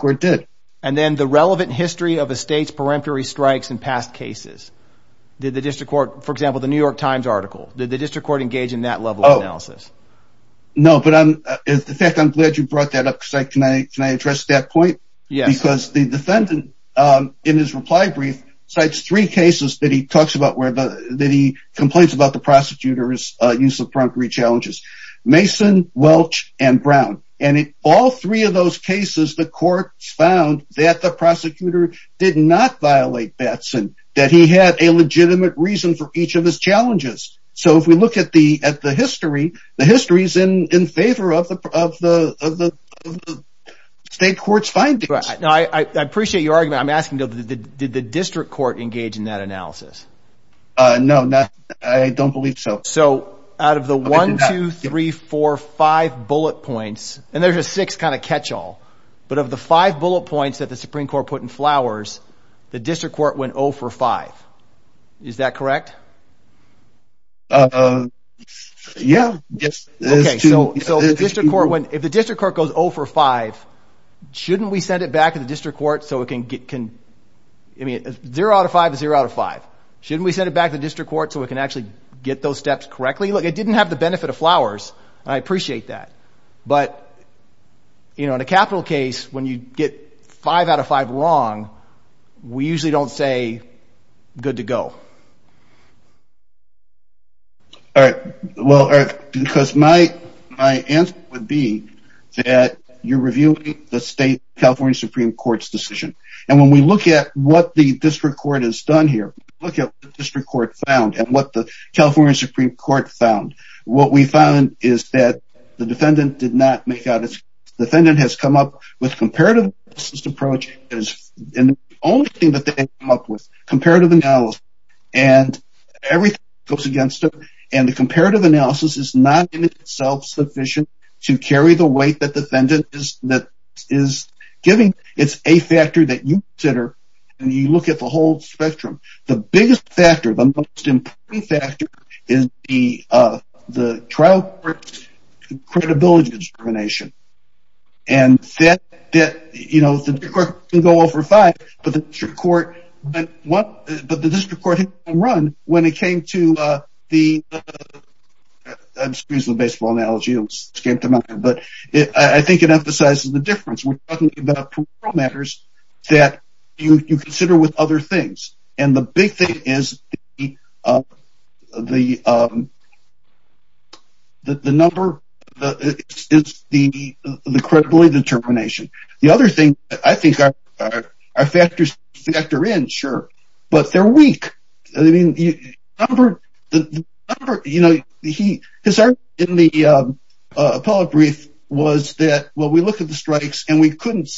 court did. And then the relevant history of a state's peremptory strikes in past cases. Did the district court, for example, the New York Times article, did the district court engage in that level of analysis? No, but I'm glad you brought that up. Can I address that point? Yes. Because the defendant, in his reply brief, cites three cases that he complains about the prosecutor's use of peremptory challenges. Mason, Welch, and Brown. And in all three of those cases, the court found that the prosecutor did not violate Batson, that he had a legitimate reason for each of his challenges. So if we look at the history, the history is in favor of the state court's findings. I appreciate your argument. I'm asking, did the district court engage in that analysis? No, I don't believe so. So out of the one, two, three, four, five bullet points, and there's a sixth kind of catch-all, but of the five bullet points that the Supreme Court put in Flowers, the district court went 0 for five. Is that correct? Yeah. Okay, so if the district court goes 0 for five, shouldn't we send it back to the district court so it can get, I mean, zero out of five is zero out of five. Shouldn't we send it back to the district court so it can actually get those steps correctly? Look, it didn't have the benefit of Flowers, and I appreciate that. But in a capital case, when you get five out of five wrong, we usually don't say good to go. All right. Well, because my answer would be that you're reviewing the state California Supreme Court's decision. And when we look at what the district court has done here, look at what the district court found and what the California Supreme Court found. What we found is that the defendant did not make out its case. The defendant has come up with comparative analysis approach, and the only thing that they came up with, comparative analysis, and everything goes against it. And the comparative analysis is not in itself sufficient to carry the weight that the defendant is giving. It's a factor that you consider when you look at the whole spectrum. The biggest factor, the most important factor, is the trial court's credibility discrimination. And that, you know, the district court didn't go over five, but the district court went one, but the district court hit one run when it came to the, excuse the baseball analogy, but I think it emphasizes the difference. We're talking about criminal matters that you consider with other things. And the big thing is the number, the credibility determination. The other thing that I think our factors factor in, sure, but they're weak. I mean, the number, you know, his argument in the appellate brief was that, well, we looked at the strikes and we couldn't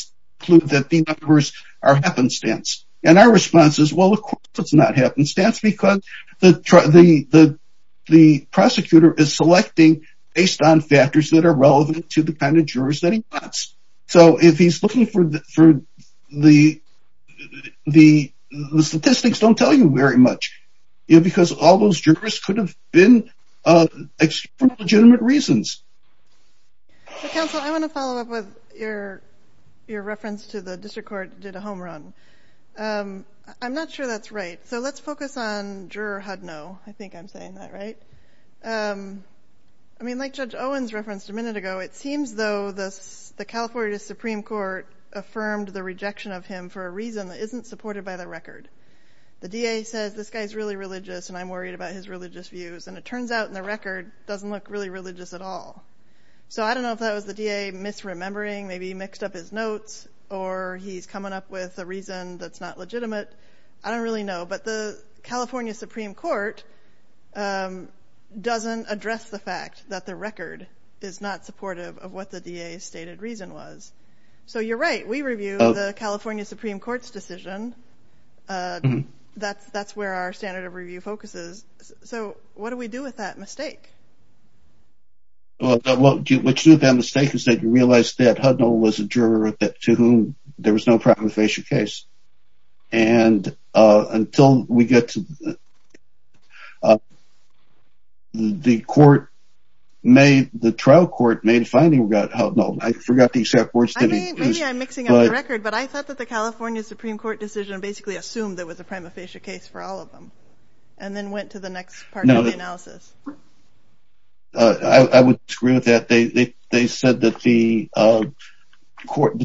conclude that the numbers are happenstance. And our response is, well, of course it's not happenstance, because the prosecutor is selecting based on factors that are relevant to the kind of jurors that he wants. So if he's looking for the statistics, don't tell you very much, because all those jurors could have been, for legitimate reasons. Counsel, I want to follow up with your reference to the district court did a home run. I'm not sure that's right. So let's focus on Juror Hudno. I think I'm saying that right. I mean, like Judge Owens referenced a minute ago, it seems though the California Supreme Court affirmed the rejection of him for a reason that isn't supported by the record. The DA says this guy's really religious and I'm worried about his religious views, and it turns out in the record doesn't look really religious at all. So I don't know if that was the DA misremembering, maybe mixed up his notes, or he's coming up with a reason that's not legitimate. I don't really know. But the California Supreme Court doesn't address the fact that the record is not supportive of what the DA stated reason was. So you're right. We review the California Supreme Court's decision. That's where our standard of review focuses. So what do we do with that mistake? Well, what you do with that mistake is that you realize that Hudno was a juror to whom there was no prima facie case. And until we get to the court, the trial court made a finding about Hudno. I forgot the exact words. Maybe I'm mixing up the record. But I thought that the California Supreme Court decision basically assumed there was a prima facie case for all of them. And then went to the next part of the analysis. I would agree with that. They said that the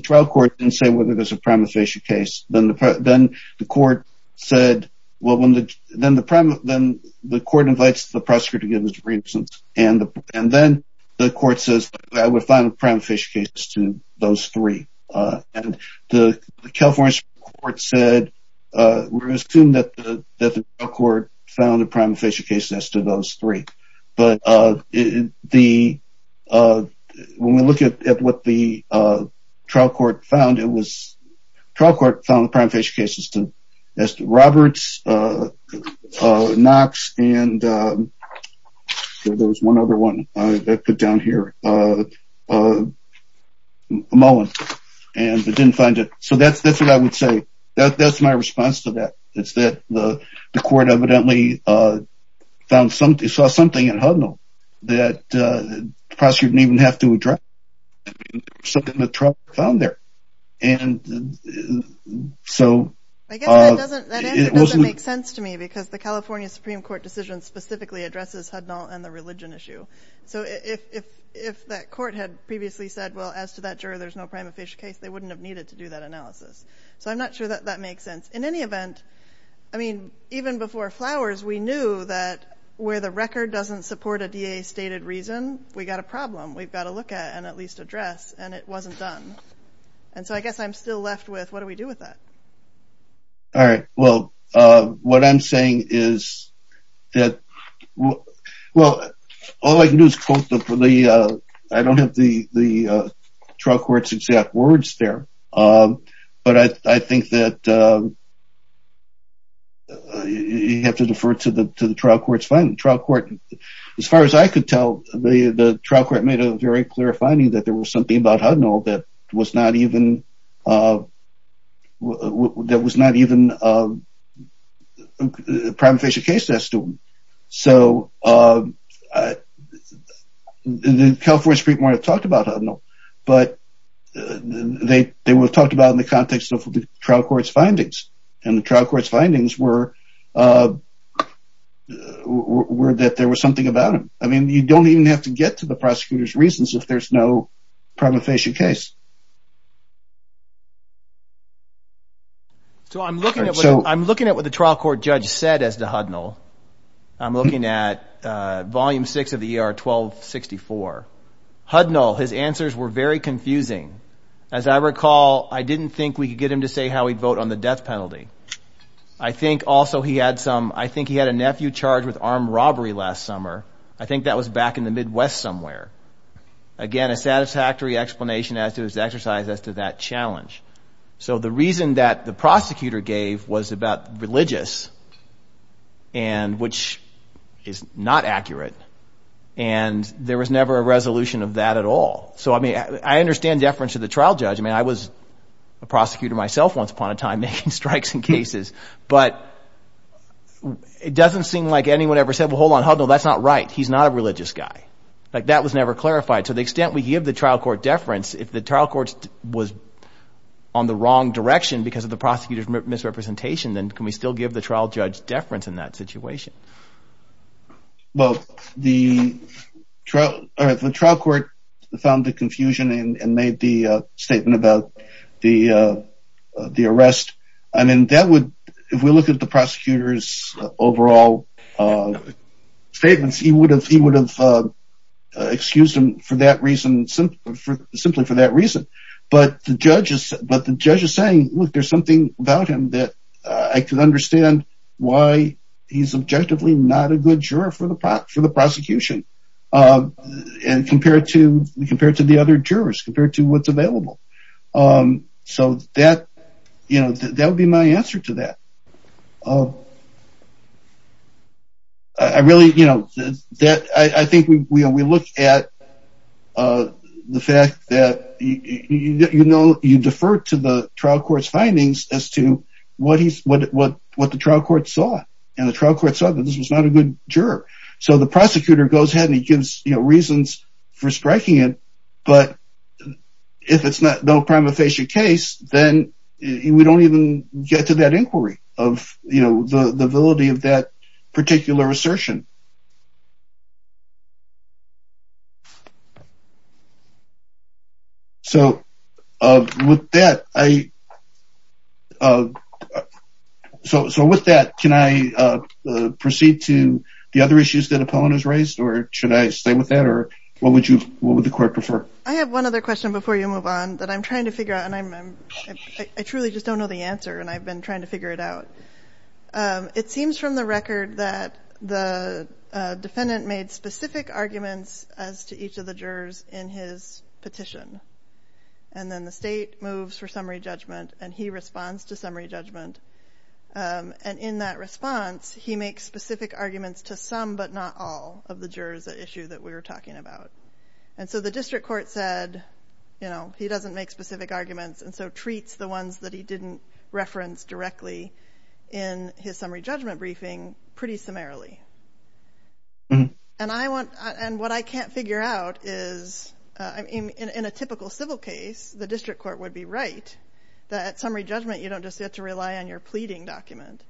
trial court didn't say whether there was a prima facie case. Then the court said, well, then the court invites the prosecutor to give his reasons. And then the court says, I would find a prima facie case to those three. The California Supreme Court said, we're going to assume that the trial court found a prima facie case as to those three. But when we look at what the trial court found, it was trial court found a prima facie case as to Roberts, Knox, and there was one other one I put down here. Mullins. And they didn't find it. So that's what I would say. That's my response to that. It's that the court evidently saw something in Hudno that the prosecutor didn't even have to address. Something that the trial court found there. And so. I guess that answer doesn't make sense to me because the California Supreme Court decision specifically addresses Hudno and the religion issue. So if that court had previously said, well, as to that juror, there's no prima facie case, they wouldn't have needed to do that analysis. So I'm not sure that that makes sense. In any event, I mean, even before Flowers, we knew that where the record doesn't support a DA stated reason, we got a problem. We've got to look at and at least address. And it wasn't done. And so I guess I'm still left with what do we do with that? All right. Well, what I'm saying is that, well, all I can do is quote the, I don't have the trial court's exact words there. But I think that you have to defer to the trial court's finding. As far as I could tell, the trial court made a very clear finding that there was something about Hudno that was not even a prima facie case. So the California Supreme Court talked about Hudno, but they were talked about in the context of the trial court's findings. And the trial court's findings were that there was something about him. I mean, you don't even have to get to the prosecutor's reasons if there's no prima facie case. So I'm looking at what the trial court judge said as to Hudno. I'm looking at volume six of the ER 1264. Hudno, his answers were very confusing. As I recall, I didn't think we could get him to say how he'd vote on the death penalty. I think also he had some, I think he had a nephew charged with armed robbery last summer. I think that was back in the Midwest somewhere. Again, a satisfactory explanation as to his exercise as to that challenge. So the reason that the prosecutor gave was about religious, which is not accurate. And there was never a resolution of that at all. So, I mean, I understand deference to the trial judge. I mean, I was a prosecutor myself once upon a time making strikes in cases. But it doesn't seem like anyone ever said, well, hold on, Hudno, that's not right. He's not a religious guy. Like that was never clarified. To the extent we give the trial court deference, if the trial court was on the wrong direction because of the prosecutor's misrepresentation, then can we still give the trial judge deference in that situation? Well, the trial court found the confusion and made the statement about the arrest. I mean, if we look at the prosecutor's overall statements, he would have excused him simply for that reason. But the judge is saying, look, there's something about him that I can understand why he's objectively not a good juror for the prosecution. And compared to the other jurors, compared to what's available. So that would be my answer to that. I really, you know, I think we look at the fact that, you know, you defer to the trial court's findings as to what the trial court saw. And the trial court saw that this was not a good juror. So the prosecutor goes ahead and he gives reasons for striking it. But if it's not no prima facie case, then we don't even get to that inquiry of, you know, the validity of that particular assertion. So with that, can I proceed to the other issues that Epona's raised or should I stay with that or what would you, what would the court prefer? I have one other question before you move on that I'm trying to figure out. And I truly just don't know the answer. And I've been trying to figure it out. It seems from the record that the defendant made specific arguments as to each of the jurors in his petition. And then the state moves for summary judgment and he responds to summary judgment. And in that response, he makes specific arguments to some but not all of the jurors at issue that we were talking about. And so the district court said, you know, he doesn't make specific arguments. And so treats the ones that he didn't reference directly in his summary judgment briefing pretty summarily. And I want and what I can't figure out is in a typical civil case, the district court would be right that summary judgment, you don't just get to rely on your pleading document.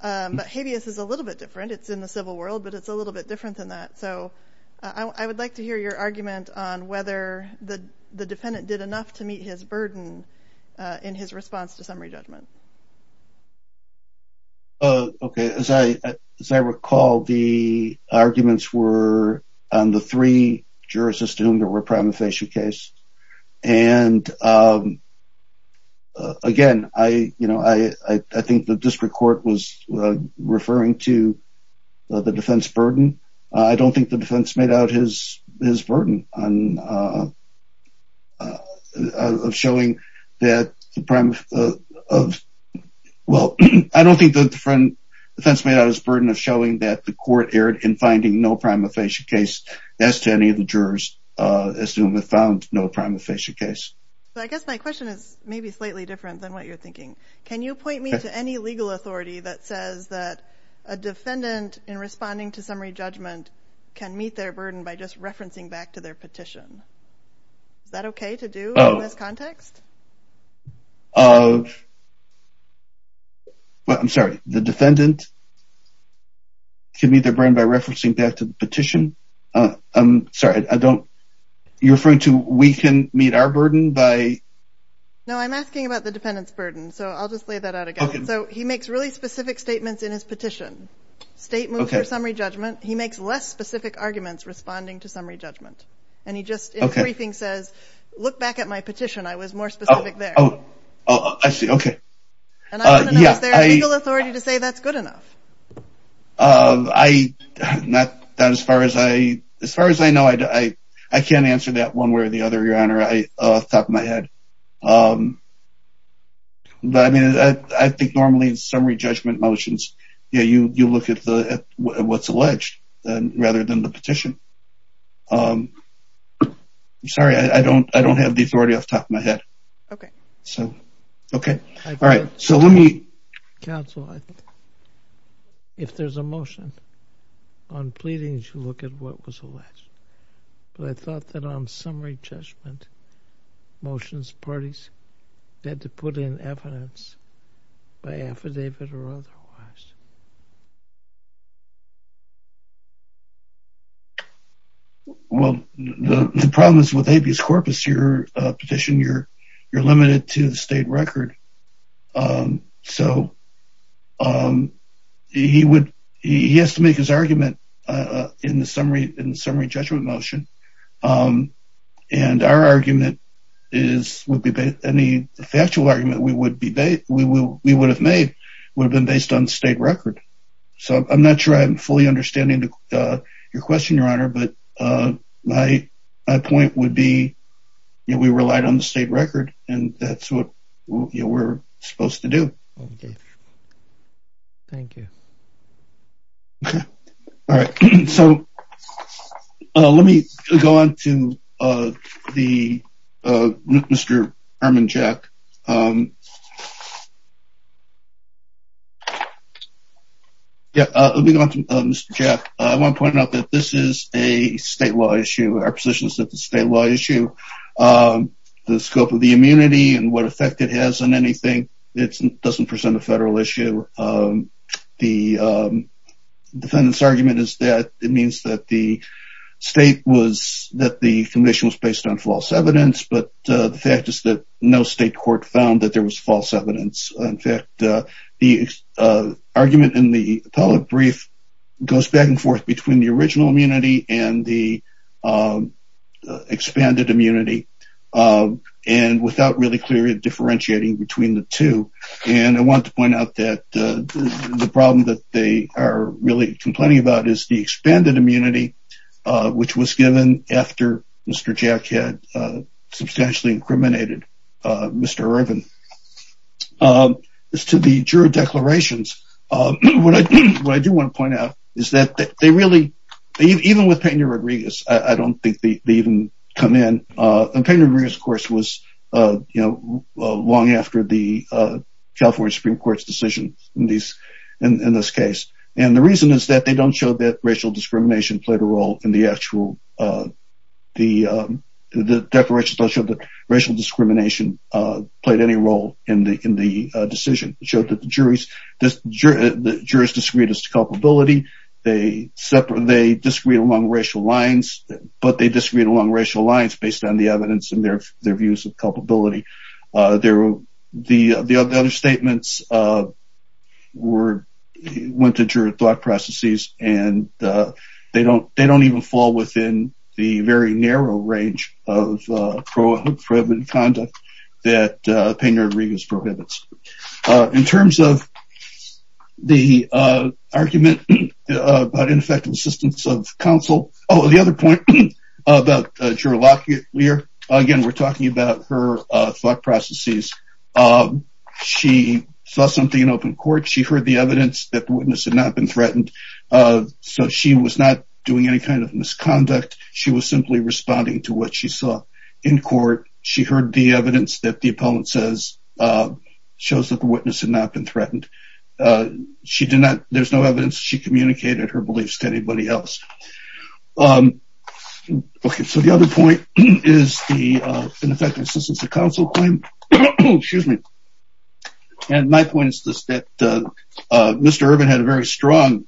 But habeas is a little bit different. It's in the civil world, but it's a little bit different than that. So I would like to hear your argument on whether the defendant did enough to meet his burden in his response to summary judgment. Okay, as I recall, the arguments were on the three jurors to whom there were prima facie case. And again, I, you know, I think the district court was referring to the defense burden. I don't think the defense made out his his burden on showing that the prime of. Well, I don't think the defense made out his burden of showing that the court erred in finding no prima facie case. As to any of the jurors, as soon as found no prima facie case. I guess my question is maybe slightly different than what you're thinking. Can you point me to any legal authority that says that a defendant in responding to summary judgment can meet their burden by just referencing back to their petition? Is that okay to do in this context? Well, I'm sorry, the defendant can meet their burden by referencing back to the petition. I'm sorry, I don't. You're referring to we can meet our burden by. No, I'm asking about the defendant's burden. So I'll just lay that out again. So he makes really specific statements in his petition. State moves for summary judgment. He makes less specific arguments responding to summary judgment. And he just says, look back at my petition. I was more specific there. Oh, I see. Okay. Is there a legal authority to say that's good enough? As far as I know, I can't answer that one way or the other, Your Honor, off the top of my head. I think normally in summary judgment motions, you look at what's alleged rather than the petition. I'm sorry, I don't have the authority off the top of my head. Okay. Okay. All right. So let me. Counsel, if there's a motion on pleadings, you look at what was alleged. But I thought that on summary judgment motions, parties had to put in evidence by affidavit or otherwise. Well, the problem is with habeas corpus, your petition, you're limited to the state record. So he has to make his argument in the summary judgment motion. And our argument is would be any factual argument we would have made would have been based on state record. So I'm not sure I'm fully understanding your question, Your Honor. But my point would be we relied on the state record and that's what we're supposed to do. Thank you. Okay. All right. So let me go on to Mr. Herman Jack. Let me go on to Mr. Jack. I want to point out that this is a statewide issue. Our position is that it's a statewide issue. The scope of the immunity and what effect it has on anything, it doesn't present a federal issue. The defendant's argument is that it means that the state was that the condition was based on false evidence. But the fact is that no state court found that there was false evidence. In fact, the argument in the public brief goes back and forth between the original immunity and the expanded immunity. And without really clearly differentiating between the two. And I want to point out that the problem that they are really complaining about is the expanded immunity, which was given after Mr. Jack had substantially incriminated Mr. Herman. As to the juror declarations, what I do want to point out is that they really, even with Peña Rodriguez, I don't think they even come in. And Peña Rodriguez, of course, was long after the California Supreme Court's decision in this case. And the reason is that they don't show that racial discrimination played a role in the actual, the declarations don't show that racial discrimination played any role in the decision. It showed that the jurors disagreed as to culpability. They disagreed along racial lines, but they disagreed along racial lines based on the evidence and their views of culpability. The other statements went to juror thought processes, and they don't even fall within the very narrow range of prohibited conduct that Peña Rodriguez prohibits. In terms of the argument about ineffective assistance of counsel, oh, the other point about juror law here, again, we're talking about her thought processes. She saw something in open court. She heard the evidence that the witness had not been threatened, so she was not doing any kind of misconduct. She was simply responding to what she saw in court. She heard the evidence that the opponent says shows that the witness had not been threatened. She did not, there's no evidence she communicated her beliefs to anybody else. Okay, so the other point is the ineffective assistance of counsel claim. Excuse me. And my point is this, that Mr. Irvin had a very strong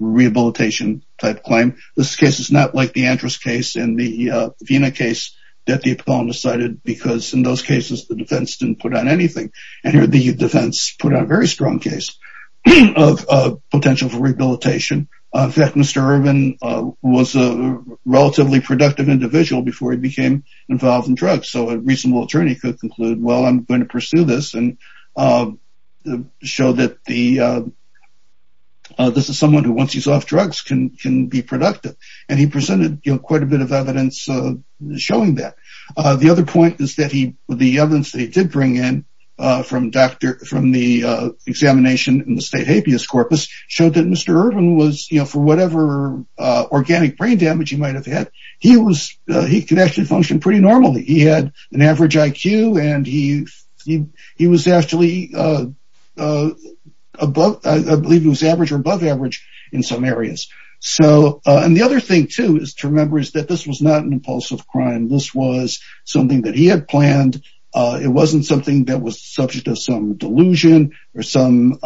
rehabilitation type claim. This case is not like the Andrus case and the Vena case that the opponent decided because in those cases the defense didn't put on anything. And here the defense put on a very strong case of potential for rehabilitation. In fact, Mr. Irvin was a relatively productive individual before he became involved in drugs. So a reasonable attorney could conclude, well, I'm going to pursue this and show that this is someone who, once he's off drugs, can be productive. And he presented quite a bit of evidence showing that. The other point is that the evidence that he did bring in from the examination in the state habeas corpus showed that Mr. Irvin was, you know, for whatever organic brain damage he might've had, he was, he could actually function pretty normally. He had an average IQ and he was actually above, I believe it was average or above average in some areas. So, and the other thing too is to remember is that this was not an impulsive crime. This was something that he had planned. It wasn't something that was subject to some delusion or some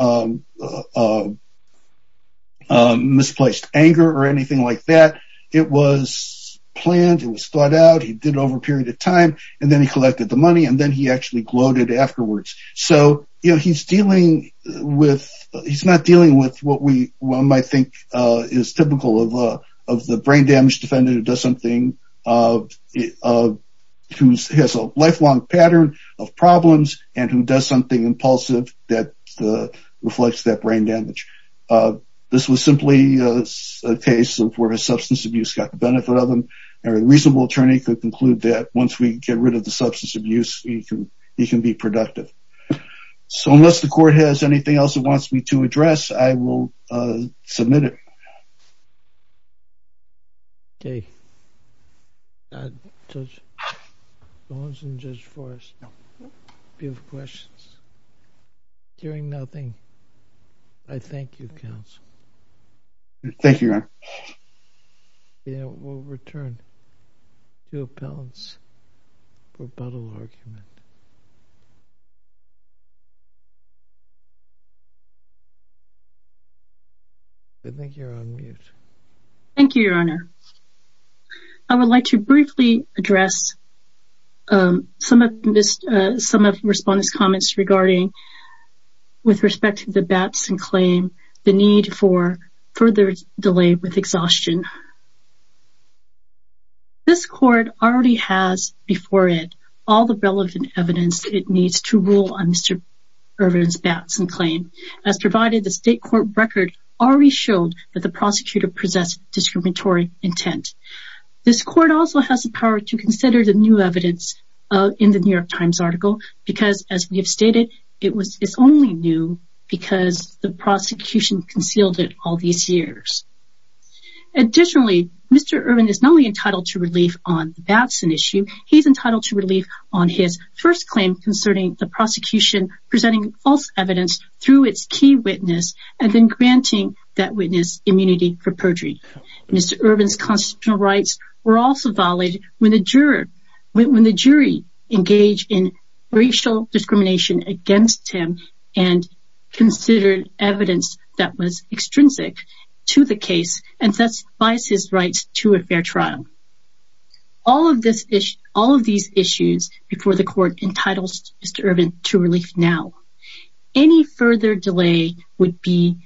misplaced anger or anything like that. It was planned, it was thought out, he did it over a period of time, and then he collected the money and then he actually gloated afterwards. So, you know, he's dealing with, he's not dealing with what we might think is typical of the brain damage defendant who does something, who has a lifelong pattern of problems and who does something impulsive that reflects that brain damage. This was simply a case of where a substance abuse got the benefit of him. A reasonable attorney could conclude that once we get rid of the substance abuse, he can be productive. So, unless the court has anything else it wants me to address, I will submit it. Okay. Okay. Judge Bowens and Judge Forrest, if you have questions. Hearing nothing, I thank you, counsel. Thank you, Your Honor. We'll return to appellants for a battle argument. I think you're on mute. Thank you, Your Honor. I would like to briefly address some of the respondents' comments regarding, with respect to the Batson claim, the need for further delay with exhaustion. This court already has before it all the relevant information. It needs to rule on Mr. Irvin's Batson claim. As provided, the state court record already showed that the prosecutor possessed discriminatory intent. This court also has the power to consider the new evidence in the New York Times article because, as we have stated, it's only new because the prosecution concealed it all these years. Additionally, Mr. Irvin is not only entitled to relief on the Batson issue, he's entitled to relief on his first claim concerning the prosecution presenting false evidence through its key witness and then granting that witness immunity for perjury. Mr. Irvin's constitutional rights were also violated when the jury engaged in racial discrimination against him and considered evidence that was extrinsic to the case and thus biased his rights to a fair trial. All of these issues before the court entitled Mr. Irvin to relief now. Any further delay would be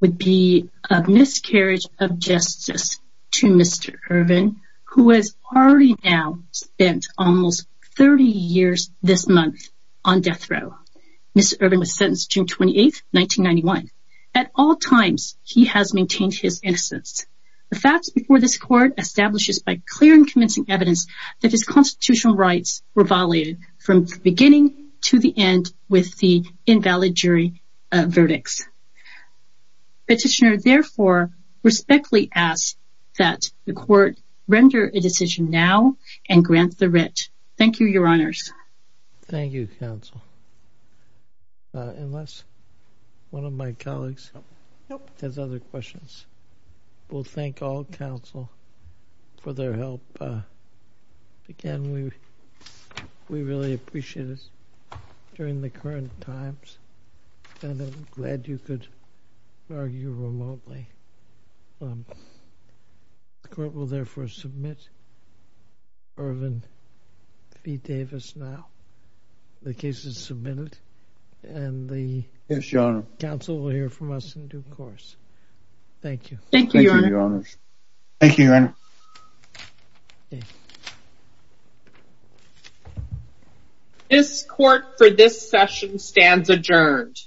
a miscarriage of justice to Mr. Irvin, who has already now spent almost 30 years this month on death row. Mr. Irvin was sentenced June 28, 1991. At all times, he has maintained his innocence. The facts before this court establishes by clear and convincing evidence that his constitutional rights were violated from the beginning to the end with the invalid jury verdicts. Petitioner, therefore, respectfully asks that the court render a decision now and grant the writ. Thank you, Your Honors. Thank you, counsel. Unless one of my colleagues has other questions. We'll thank all counsel for their help. Again, we really appreciate it during the current times. And I'm glad you could argue remotely. The court will therefore submit Irvin v. Davis now. The case is submitted and the counsel will hear from us in due course. Thank you. Thank you, Your Honor. Thank you, Your Honor. This court for this session stands adjourned.